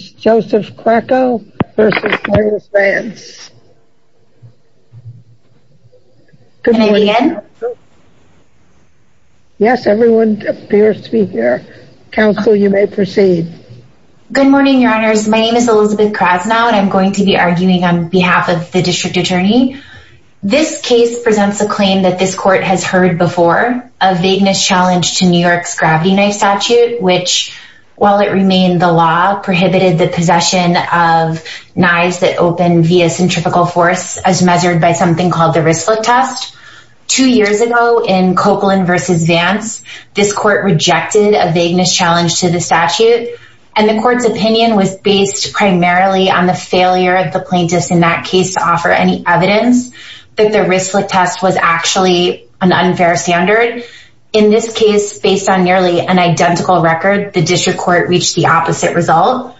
Joseph Cracco v. Douglas Vance My name is Elizabeth Krasnow and I am going to be arguing on behalf of the District Attorney. This case presents a claim that this court has heard before, of vagueness challenged to New York's gravity knife statute, which, while it remained the law, prohibited the possession of knives that opened via centrifugal force as measured by something called the Ryschlik test. Two years ago in Copeland v. Vance, this court rejected a vagueness challenge to the statute and the court's opinion was based primarily on the failure of the plaintiffs in that case to offer any evidence that the Ryschlik test was actually an unfair standard. In this case, based on nearly an identical record, the District Court reached the opposite result.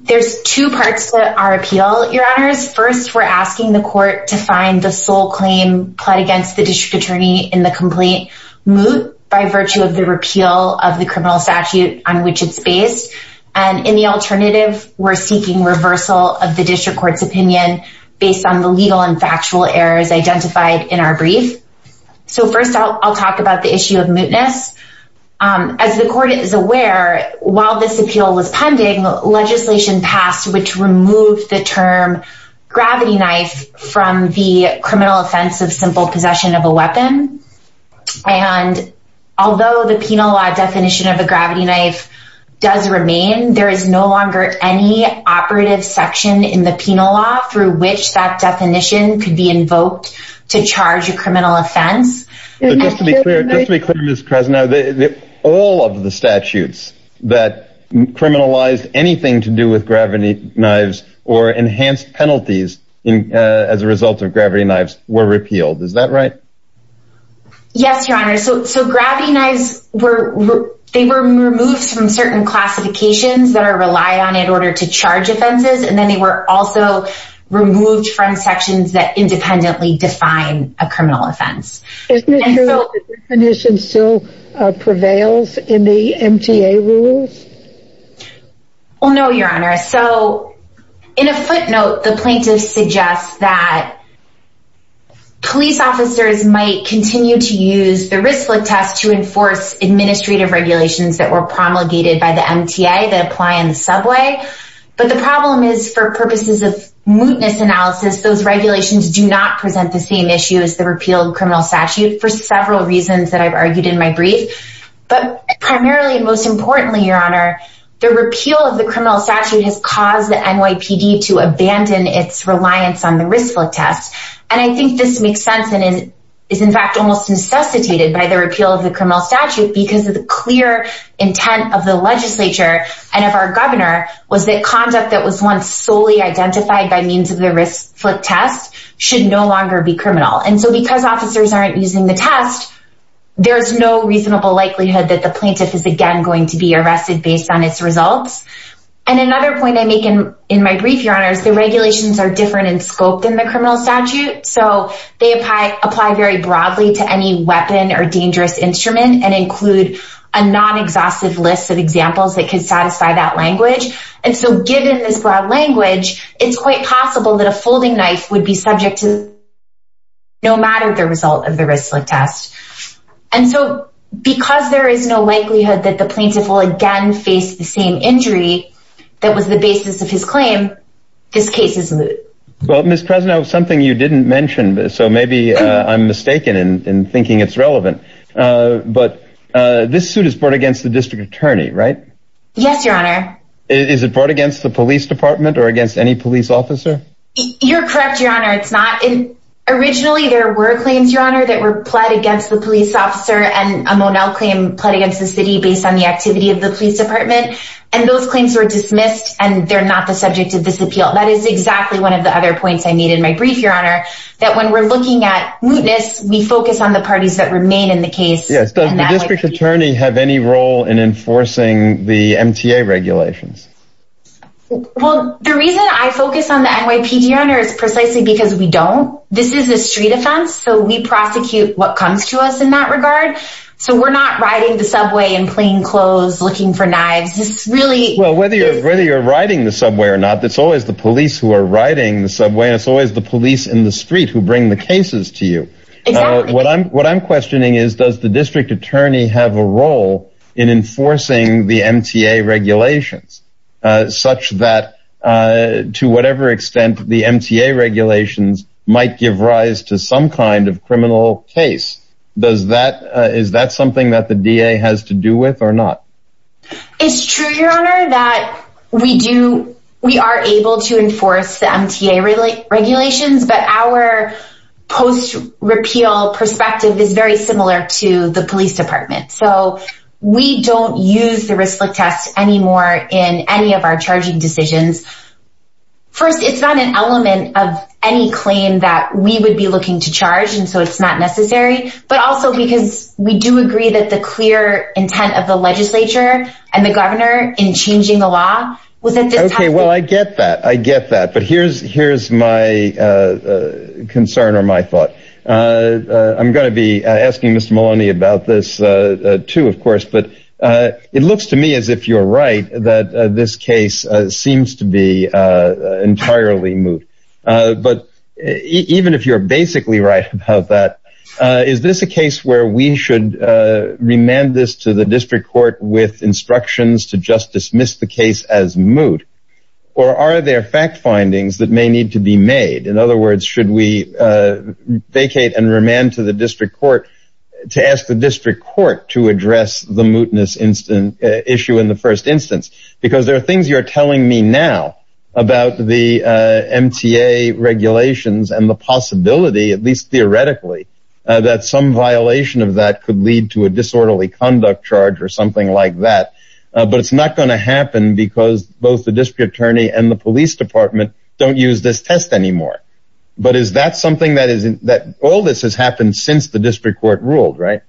There's two parts to our appeal, Your Honors. First, we're asking the court to find the sole claim pled against the District Attorney in the complaint moot by virtue of the repeal of the criminal statute on which it's based. And in the alternative, we're seeking reversal of the District Court's opinion based on the legal and factual errors identified in our brief. So first, I'll talk about the issue of mootness. As the court is aware, while this appeal was pending, legislation passed which removed the term gravity knife from the criminal offense of simple possession of a weapon. And although the penal law definition of a gravity knife does remain, there is no longer any operative section in the penal law through which that definition could be invoked to define a criminal offense. But just to be clear, Ms. Krasnow, all of the statutes that criminalized anything to do with gravity knives or enhanced penalties as a result of gravity knives were repealed. Is that right? Yes, Your Honor. So gravity knives, they were removed from certain classifications that are relied on in order to charge offenses, and then they were also removed from sections that independently define a criminal offense. Isn't it true that the definition still prevails in the MTA rules? Well, no, Your Honor. So in a footnote, the plaintiff suggests that police officers might continue to use the RISC-LiC test to enforce administrative regulations that were promulgated by the MTA that apply in the subway. But the problem is, for purposes of mootness analysis, those regulations do not present the same issue as the repealed criminal statute for several reasons that I've argued in my brief. But primarily, and most importantly, Your Honor, the repeal of the criminal statute has caused the NYPD to abandon its reliance on the RISC-LiC test. And I think this makes sense and is, in fact, almost necessitated by the repeal of the criminal And if our governor was that conduct that was once solely identified by means of the RISC-LiC test should no longer be criminal. And so because officers aren't using the test, there's no reasonable likelihood that the plaintiff is again going to be arrested based on its results. And another point I make in my brief, Your Honor, is the regulations are different in scope than the criminal statute. So they apply very broadly to any weapon or dangerous instrument and include a non-exhaustive list of examples that could satisfy that language. And so given this broad language, it's quite possible that a folding knife would be subject to no matter the result of the RISC-LiC test. And so because there is no likelihood that the plaintiff will again face the same injury that was the basis of his claim, this case is moot. Well, Ms. Prezna, something you didn't mention, so maybe I'm mistaken in thinking it's relevant. But this suit is brought against the district attorney, right? Yes, Your Honor. Is it brought against the police department or against any police officer? You're correct, Your Honor, it's not. And originally there were claims, Your Honor, that were pled against the police officer and a Monell claim pled against the city based on the activity of the police department. And those claims were dismissed and they're not the subject of this appeal. That is exactly one of the other points I made in my brief, Your Honor, that when we're in the case, does the district attorney have any role in enforcing the MTA regulations? Well, the reason I focus on the NYPD, Your Honor, is precisely because we don't. This is a street offense. So we prosecute what comes to us in that regard. So we're not riding the subway in plain clothes looking for knives. It's really... Well, whether you're riding the subway or not, it's always the police who are riding the subway and it's always the police in the street who bring the cases to you. What I'm what I'm questioning is, does the district attorney have a role in enforcing the MTA regulations such that to whatever extent the MTA regulations might give rise to some kind of criminal case? Does that is that something that the DA has to do with or not? It's true, Your Honor, that we do we are able to enforce the MTA regulations. But our post-repeal perspective is very similar to the police department. So we don't use the risk look test anymore in any of our charging decisions. First, it's not an element of any claim that we would be looking to charge, and so it's not necessary, but also because we do agree that the clear intent of the legislature and the governor in changing the law was at this time. OK, well, I get that. I get that. But here's here's my concern or my thought. I'm going to be asking Mr. Maloney about this, too, of course. But it looks to me as if you're right, that this case seems to be entirely moot. But even if you're basically right about that, is this a case where we should remand this to the district court with instructions to just dismiss the case as moot? Or are there fact findings that may need to be made? In other words, should we vacate and remand to the district court to ask the district court to address the mootness issue in the first instance? Because there are things you're telling me now about the MTA regulations and the possibility, at least theoretically, that some violation of that could lead to a disorderly conduct charge or something like that. But it's not going to happen because both the district attorney and the police department don't use this test anymore. But is that something that isn't that all this has happened since the district court ruled, right?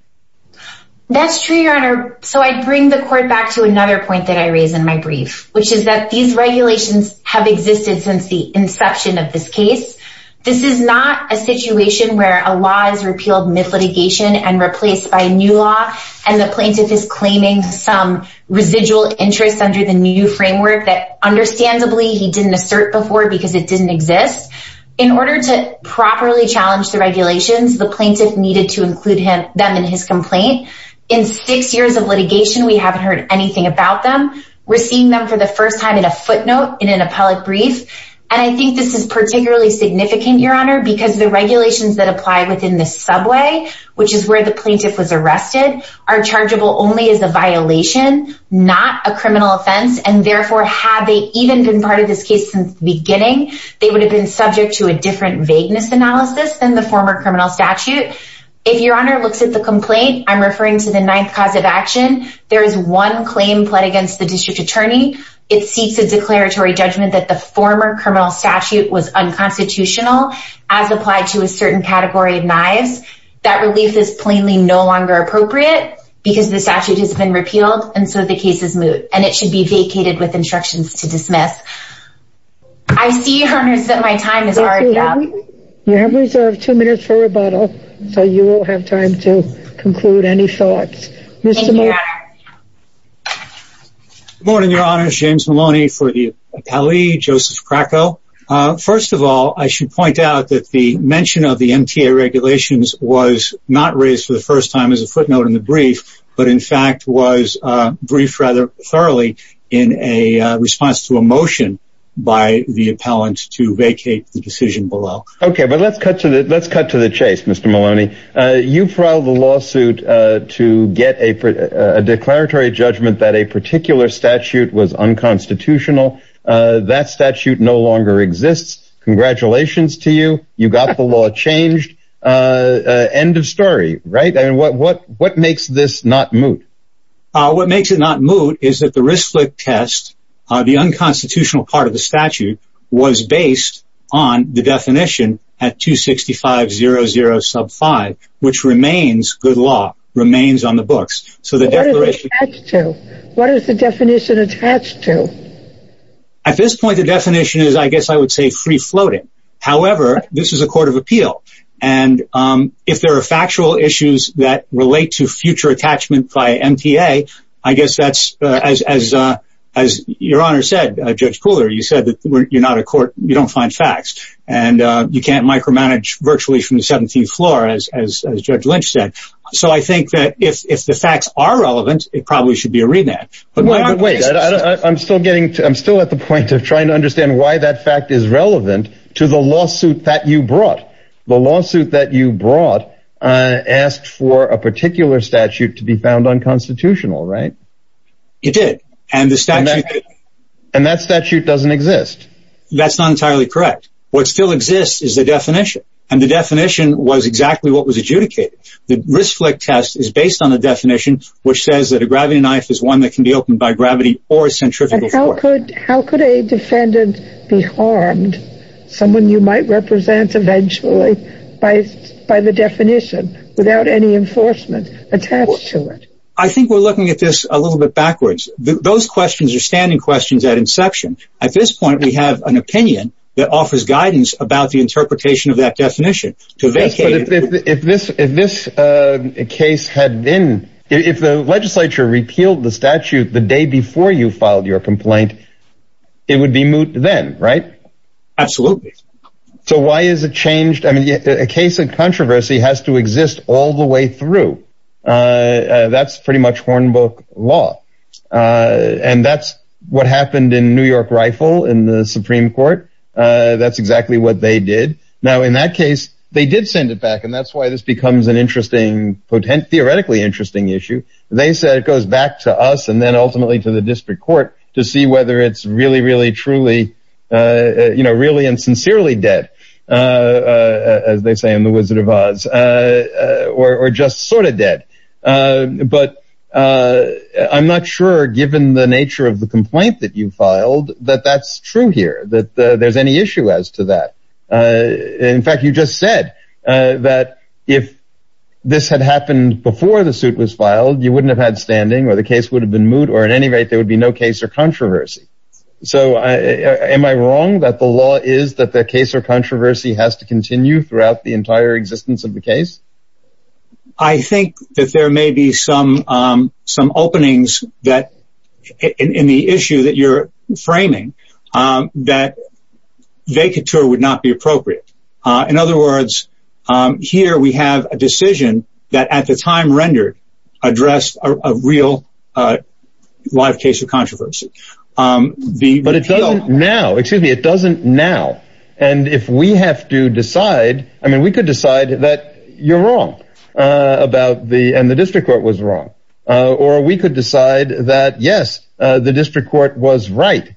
That's true, your honor. So I bring the court back to another point that I raise in my brief, which is that these regulations have existed since the inception of this case. This is not a situation where a law is repealed mid litigation and replaced by a plaintiff is claiming some residual interest under the new framework that understandably he didn't assert before because it didn't exist. In order to properly challenge the regulations, the plaintiff needed to include them in his complaint. In six years of litigation, we haven't heard anything about them. We're seeing them for the first time in a footnote in an appellate brief. And I think this is particularly significant, your honor, because the regulations that apply within the subway, which is where the plaintiff was only as a violation, not a criminal offense. And therefore, had they even been part of this case since the beginning, they would have been subject to a different vagueness analysis than the former criminal statute. If your honor looks at the complaint, I'm referring to the ninth cause of action. There is one claim pled against the district attorney. It seeks a declaratory judgment that the former criminal statute was unconstitutional as applied to a certain category of knives. That relief is plainly no longer appropriate because the statute has been repealed, and so the case is moot and it should be vacated with instructions to I see, your honor, that my time is already up. You have reserved two minutes for rebuttal, so you will have time to conclude any thoughts. Good morning, your honor. James Maloney for the appellee, Joseph Krakow. First of all, I should point out that the mention of the regulations was not raised for the first time as a footnote in the brief, but in fact was briefed rather thoroughly in a response to a motion by the appellant to vacate the decision below. OK, but let's cut to the let's cut to the chase. Mr. Maloney, you filed a lawsuit to get a declaratory judgment that a particular statute was unconstitutional. That statute no longer exists. Congratulations to you. You got the law changed. End of story. Right. And what what what makes this not moot? What makes it not moot is that the risk test, the unconstitutional part of the statute was based on the definition at two sixty five zero zero sub five, which remains good law remains on the books. So the declaration to what is the definition attached to? At this point, the definition is, I guess I would say free floating. However, this is a court of appeal. And if there are factual issues that relate to future attachment by MTA, I guess that's as as your honor said, Judge Pooler, you said that you're not a court. You don't find facts and you can't micromanage virtually from the 17th floor, as Judge Lynch said. So I think that if the facts are relevant, it probably should be a at the point of trying to understand why that fact is relevant to the lawsuit that you brought. The lawsuit that you brought asked for a particular statute to be found unconstitutional, right? You did. And the statute and that statute doesn't exist. That's not entirely correct. What still exists is the definition. And the definition was exactly what was adjudicated. The risk test is based on a definition which says that a gravity knife is one that can be opened by gravity or centrifugal. And how could how could a defendant be harmed? Someone you might represent eventually by by the definition without any enforcement attached to it. I think we're looking at this a little bit backwards. Those questions are standing questions at inception. At this point, we have an opinion that offers guidance about the interpretation of that definition to vacate. If this if this case had been if the legislature repealed the statute the day before you filed your complaint, it would be moot then, right? Absolutely. So why is it changed? I mean, a case of controversy has to exist all the way through. That's pretty much Hornbook law. And that's what happened in New York Rifle in the Supreme Court. That's exactly what they did. Now, in that case, they did send it back. And that's why this becomes an interesting, potent, theoretically interesting issue. They said it goes back to us and then ultimately to the district court to see whether it's really, really, truly, you know, really and sincerely dead, as they say in the Wizard of Oz, or just sort of dead. But I'm not sure, given the nature of the complaint that you filed, that that's true here, that there's any issue as to that. In fact, you just said that if this had happened before the suit was filed, you wouldn't have had standing or the case would have been moot or at any rate, there would be no case or controversy. So am I wrong that the law is that the case or controversy has to continue throughout the entire existence of the case? I think that there may be some some openings that in the issue that you're framing that vacature would not be appropriate. In other words, here we have a decision that at the time rendered addressed a real life case of controversy. But it doesn't now. Excuse me. It doesn't now. And if we have to decide, I mean, we could decide that you're wrong about the and the district court was wrong. Or we could decide that, yes, the district court was right.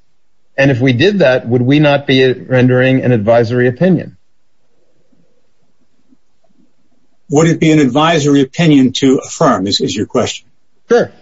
And if we did that, would we not be rendering an advisory opinion? Would it be an advisory opinion to affirm this is your question? Sure.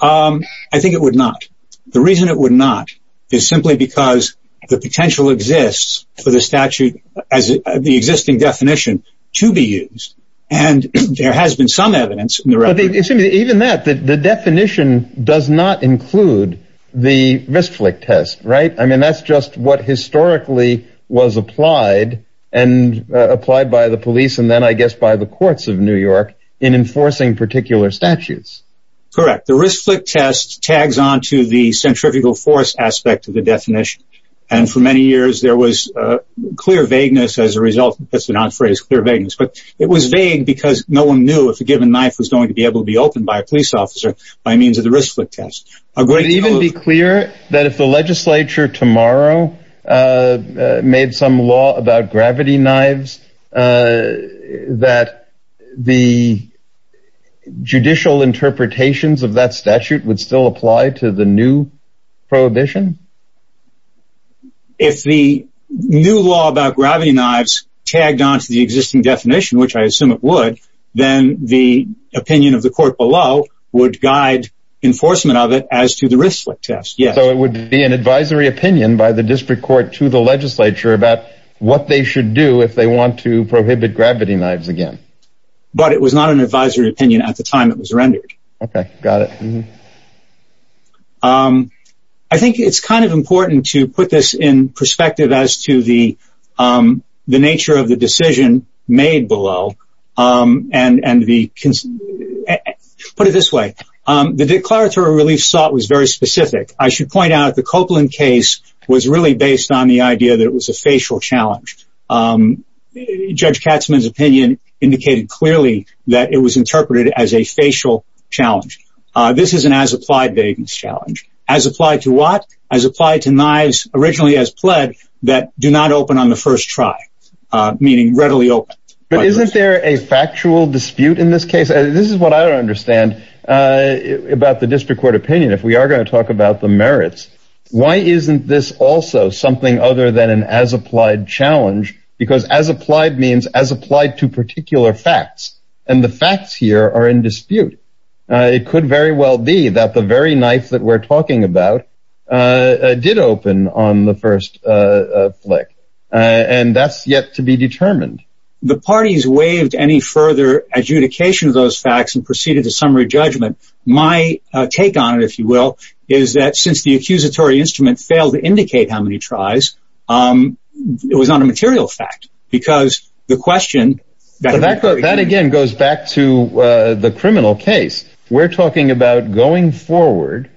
I think it would not. The reason it would not is simply because the potential exists for the statute as the existing definition to be used. And there has been some evidence. Even that the definition does not include the risk test. Right. I mean, that's just what historically was applied and applied by the police. And then I guess by the courts of New York in enforcing particular statutes. Correct. The risk test tags on to the centrifugal force aspect of the definition. And for many years, there was clear vagueness as a result. That's the phrase clear vagueness. But it was vague because no one knew if a given knife was going to be able to be opened by a police officer by means of the risk foot test. I would even be clear that if the legislature tomorrow made some law about gravity knives, that the judicial interpretations of that statute would still apply to the new prohibition. If the new law about gravity knives tagged on to the existing definition, which I assume it would, then the opinion of the court below would guide enforcement of it as to the risk test. So it would be an advisory opinion by the district court to the legislature about what they should do if they want to prohibit gravity knives again. But it was not an advisory opinion at the time. It was rendered. OK, got it. I think it's kind of important to put this in perspective as to the the nature of the decision made below and and the put it this way. The declaratory relief sought was very specific. I should point out the Copeland case was really based on the idea that it was a facial challenge. Judge Katzmann's opinion indicated clearly that it was interpreted as a facial challenge. This is an as applied vagueness challenge as applied to what as applied to readily. But isn't there a factual dispute in this case? This is what I understand about the district court opinion. If we are going to talk about the merits, why isn't this also something other than an as applied challenge? Because as applied means as applied to particular facts and the facts here are in dispute. It could very well be that the very knife that we're talking about did open on the first flick and that's yet to be determined. The party's waived any further adjudication of those facts and proceeded to summary judgment. My take on it, if you will, is that since the accusatory instrument failed to indicate how many tries it was on a material fact because the question that that again goes back to the criminal case we're talking about going forward.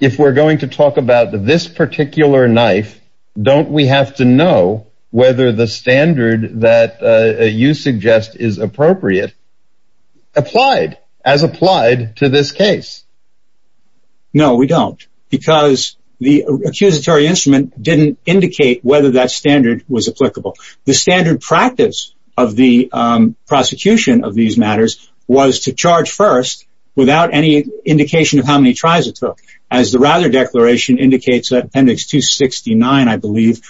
If we're going to talk about this particular knife, don't we have to know whether the standard that you suggest is appropriate? Applied as applied to this case. No, we don't, because the accusatory instrument didn't indicate whether that standard was applicable. The standard practice of the prosecution of these matters was to charge first without any indication of how many tries it took as the rather declaration indicates that appendix 269. I believe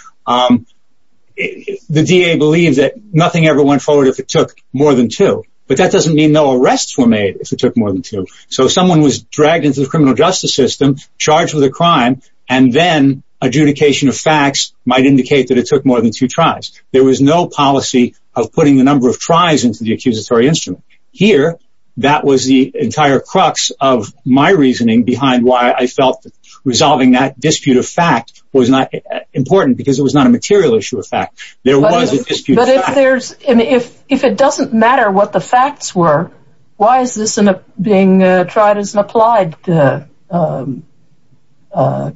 the D.A. believes that nothing ever went forward if it took more than two. But that doesn't mean no arrests were made if it took more than two. So someone was dragged into the criminal justice system, charged with a crime, and then adjudication of facts might indicate that it took more than two tries. There was no policy of putting the number of tries into the accusatory instrument here. That was the entire crux of my reasoning behind why I felt resolving that dispute of fact was not important because it was not a material issue of fact. There was a dispute. But if there's if if it doesn't matter what the facts were, why is this being tried as an applied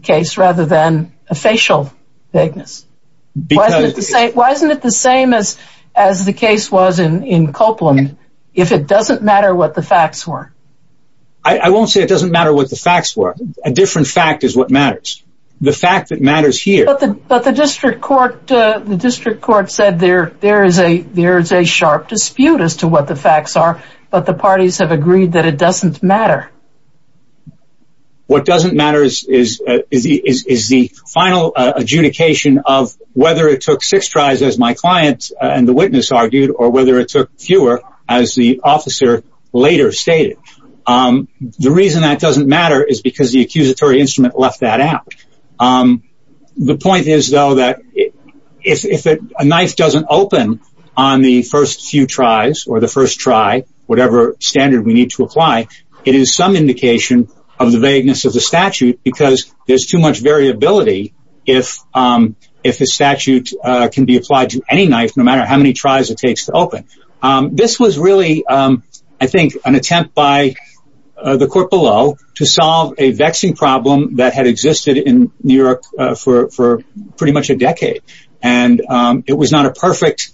case rather than a facial vagueness? Because why isn't it the same as as the case was in in Copeland? If it doesn't matter what the facts were. I won't say it doesn't matter what the facts were. A different fact is what matters. The fact that matters here. But the district court, the district court said there there is a there is a sharp dispute as to what the facts are. But the parties have agreed that it doesn't matter. What doesn't matter is is the is the final adjudication of whether it took six tries, as my client and the witness argued, or whether it took fewer, as the officer later stated. The reason that doesn't matter is because the accusatory instrument left that out. The point is, though, that if a knife doesn't open on the first few tries or the first try, whatever standard we need to apply, it is some indication of the vagueness of the statute because there's too much variability if if the statute can be applied to any knife, no matter how many tries it takes to open. This was really, I think, an attempt by the court below to solve a vexing problem that had existed in New York for pretty much a decade. And it was not a perfect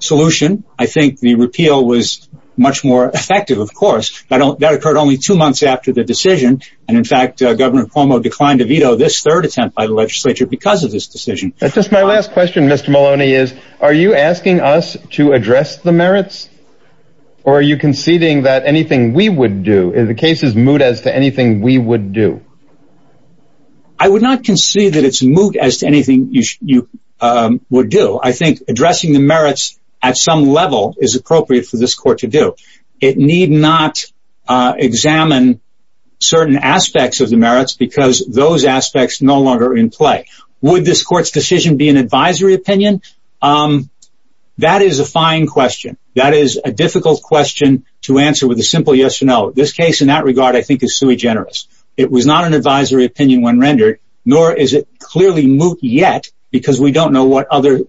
solution. I think the repeal was much more effective. Of course, I don't that occurred only two months after the decision. And in fact, Governor Cuomo declined to veto this third attempt by the legislature because of this decision. Just my last question, Mr. Maloney, is are you asking us to address the merits or are you conceding that anything we would do in the case is moot as to anything we would do? I would not concede that it's moot as to anything you would do. I think addressing the merits at some level is appropriate for this court to do. It need not examine certain aspects of the merits because those aspects no longer in play. Would this court's decision be an advisory opinion? That is a fine question. That is a difficult question to answer with a simple yes or no. This case in that regard, I think, is sui generis. It was not an advisory opinion when rendered, nor is it clearly moot yet because we don't know what other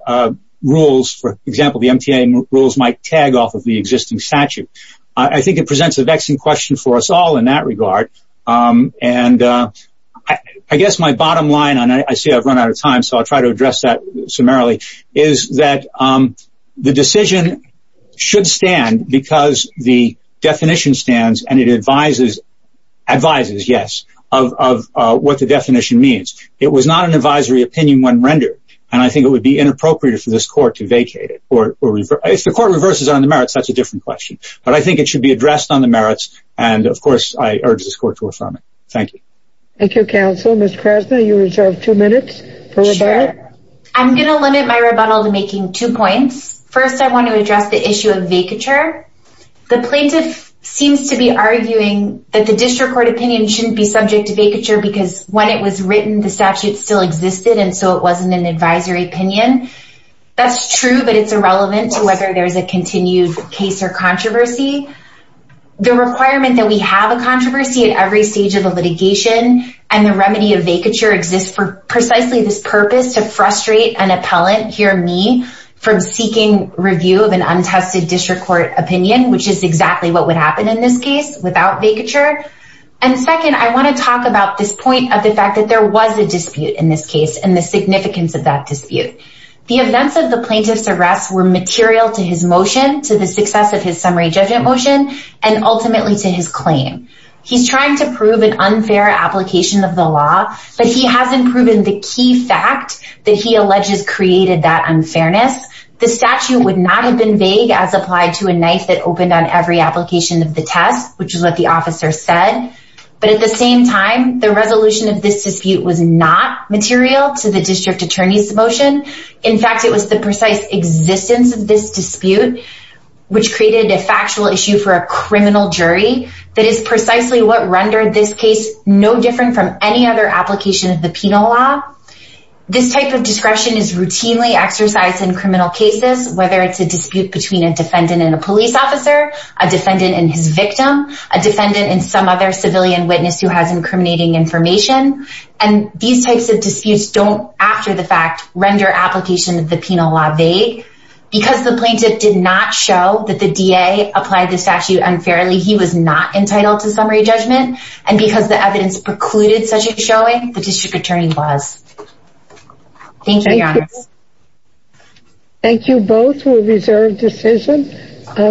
rules, for example, the MTA rules might tag off of the existing statute. I think it presents a vexing question for us all in that regard. And I guess my bottom line, and I see I've run out of time, so I'll try to address that summarily, is that the decision should stand because the definition stands and it advises advises, yes, of what the definition means. It was not an advisory opinion when rendered. And I think it would be inappropriate for this court to vacate it or if the court reverses on the merits, that's a different question. But I think it should be addressed on the merits. And of course, I urge this court to affirm it. Thank you. Thank you, counsel. Ms. Krasner, you reserve two minutes for rebuttal. I'm going to limit my rebuttal to making two points. First, I want to address the issue of vacature. The plaintiff seems to be arguing that the district court opinion shouldn't be subject to an advisory opinion. That's true, but it's irrelevant to whether there's a continued case or controversy. The requirement that we have a controversy at every stage of the litigation and the remedy of vacature exists for precisely this purpose to frustrate an appellant, here me, from seeking review of an untested district court opinion, which is exactly what would happen in this case without vacature. And second, I want to talk about this point of the fact that there was a dispute in this case, and the significance of that dispute. The events of the plaintiff's arrest were material to his motion, to the success of his summary judgment motion, and ultimately to his claim. He's trying to prove an unfair application of the law, but he hasn't proven the key fact that he alleges created that unfairness. The statute would not have been vague as applied to a knife that opened on every application of the test, which is what the officer said. But at the same time, the resolution of this dispute was not material to the district attorney's motion. In fact, it was the precise existence of this dispute, which created a factual issue for a criminal jury. That is precisely what rendered this case no different from any other application of the penal law. This type of discretion is routinely exercised in criminal cases, whether it's a dispute between a defendant and a police officer, a defendant and his victim, a defendant and some other civilian witness who has incriminating information. And these types of disputes don't, after the fact, render application of the penal law vague. Because the plaintiff did not show that the DA applied the statute unfairly, he was not entitled to summary judgment. And because the evidence precluded such a showing, the district attorney was. Thank you, Your Honor. Thank you both for a reserved decision.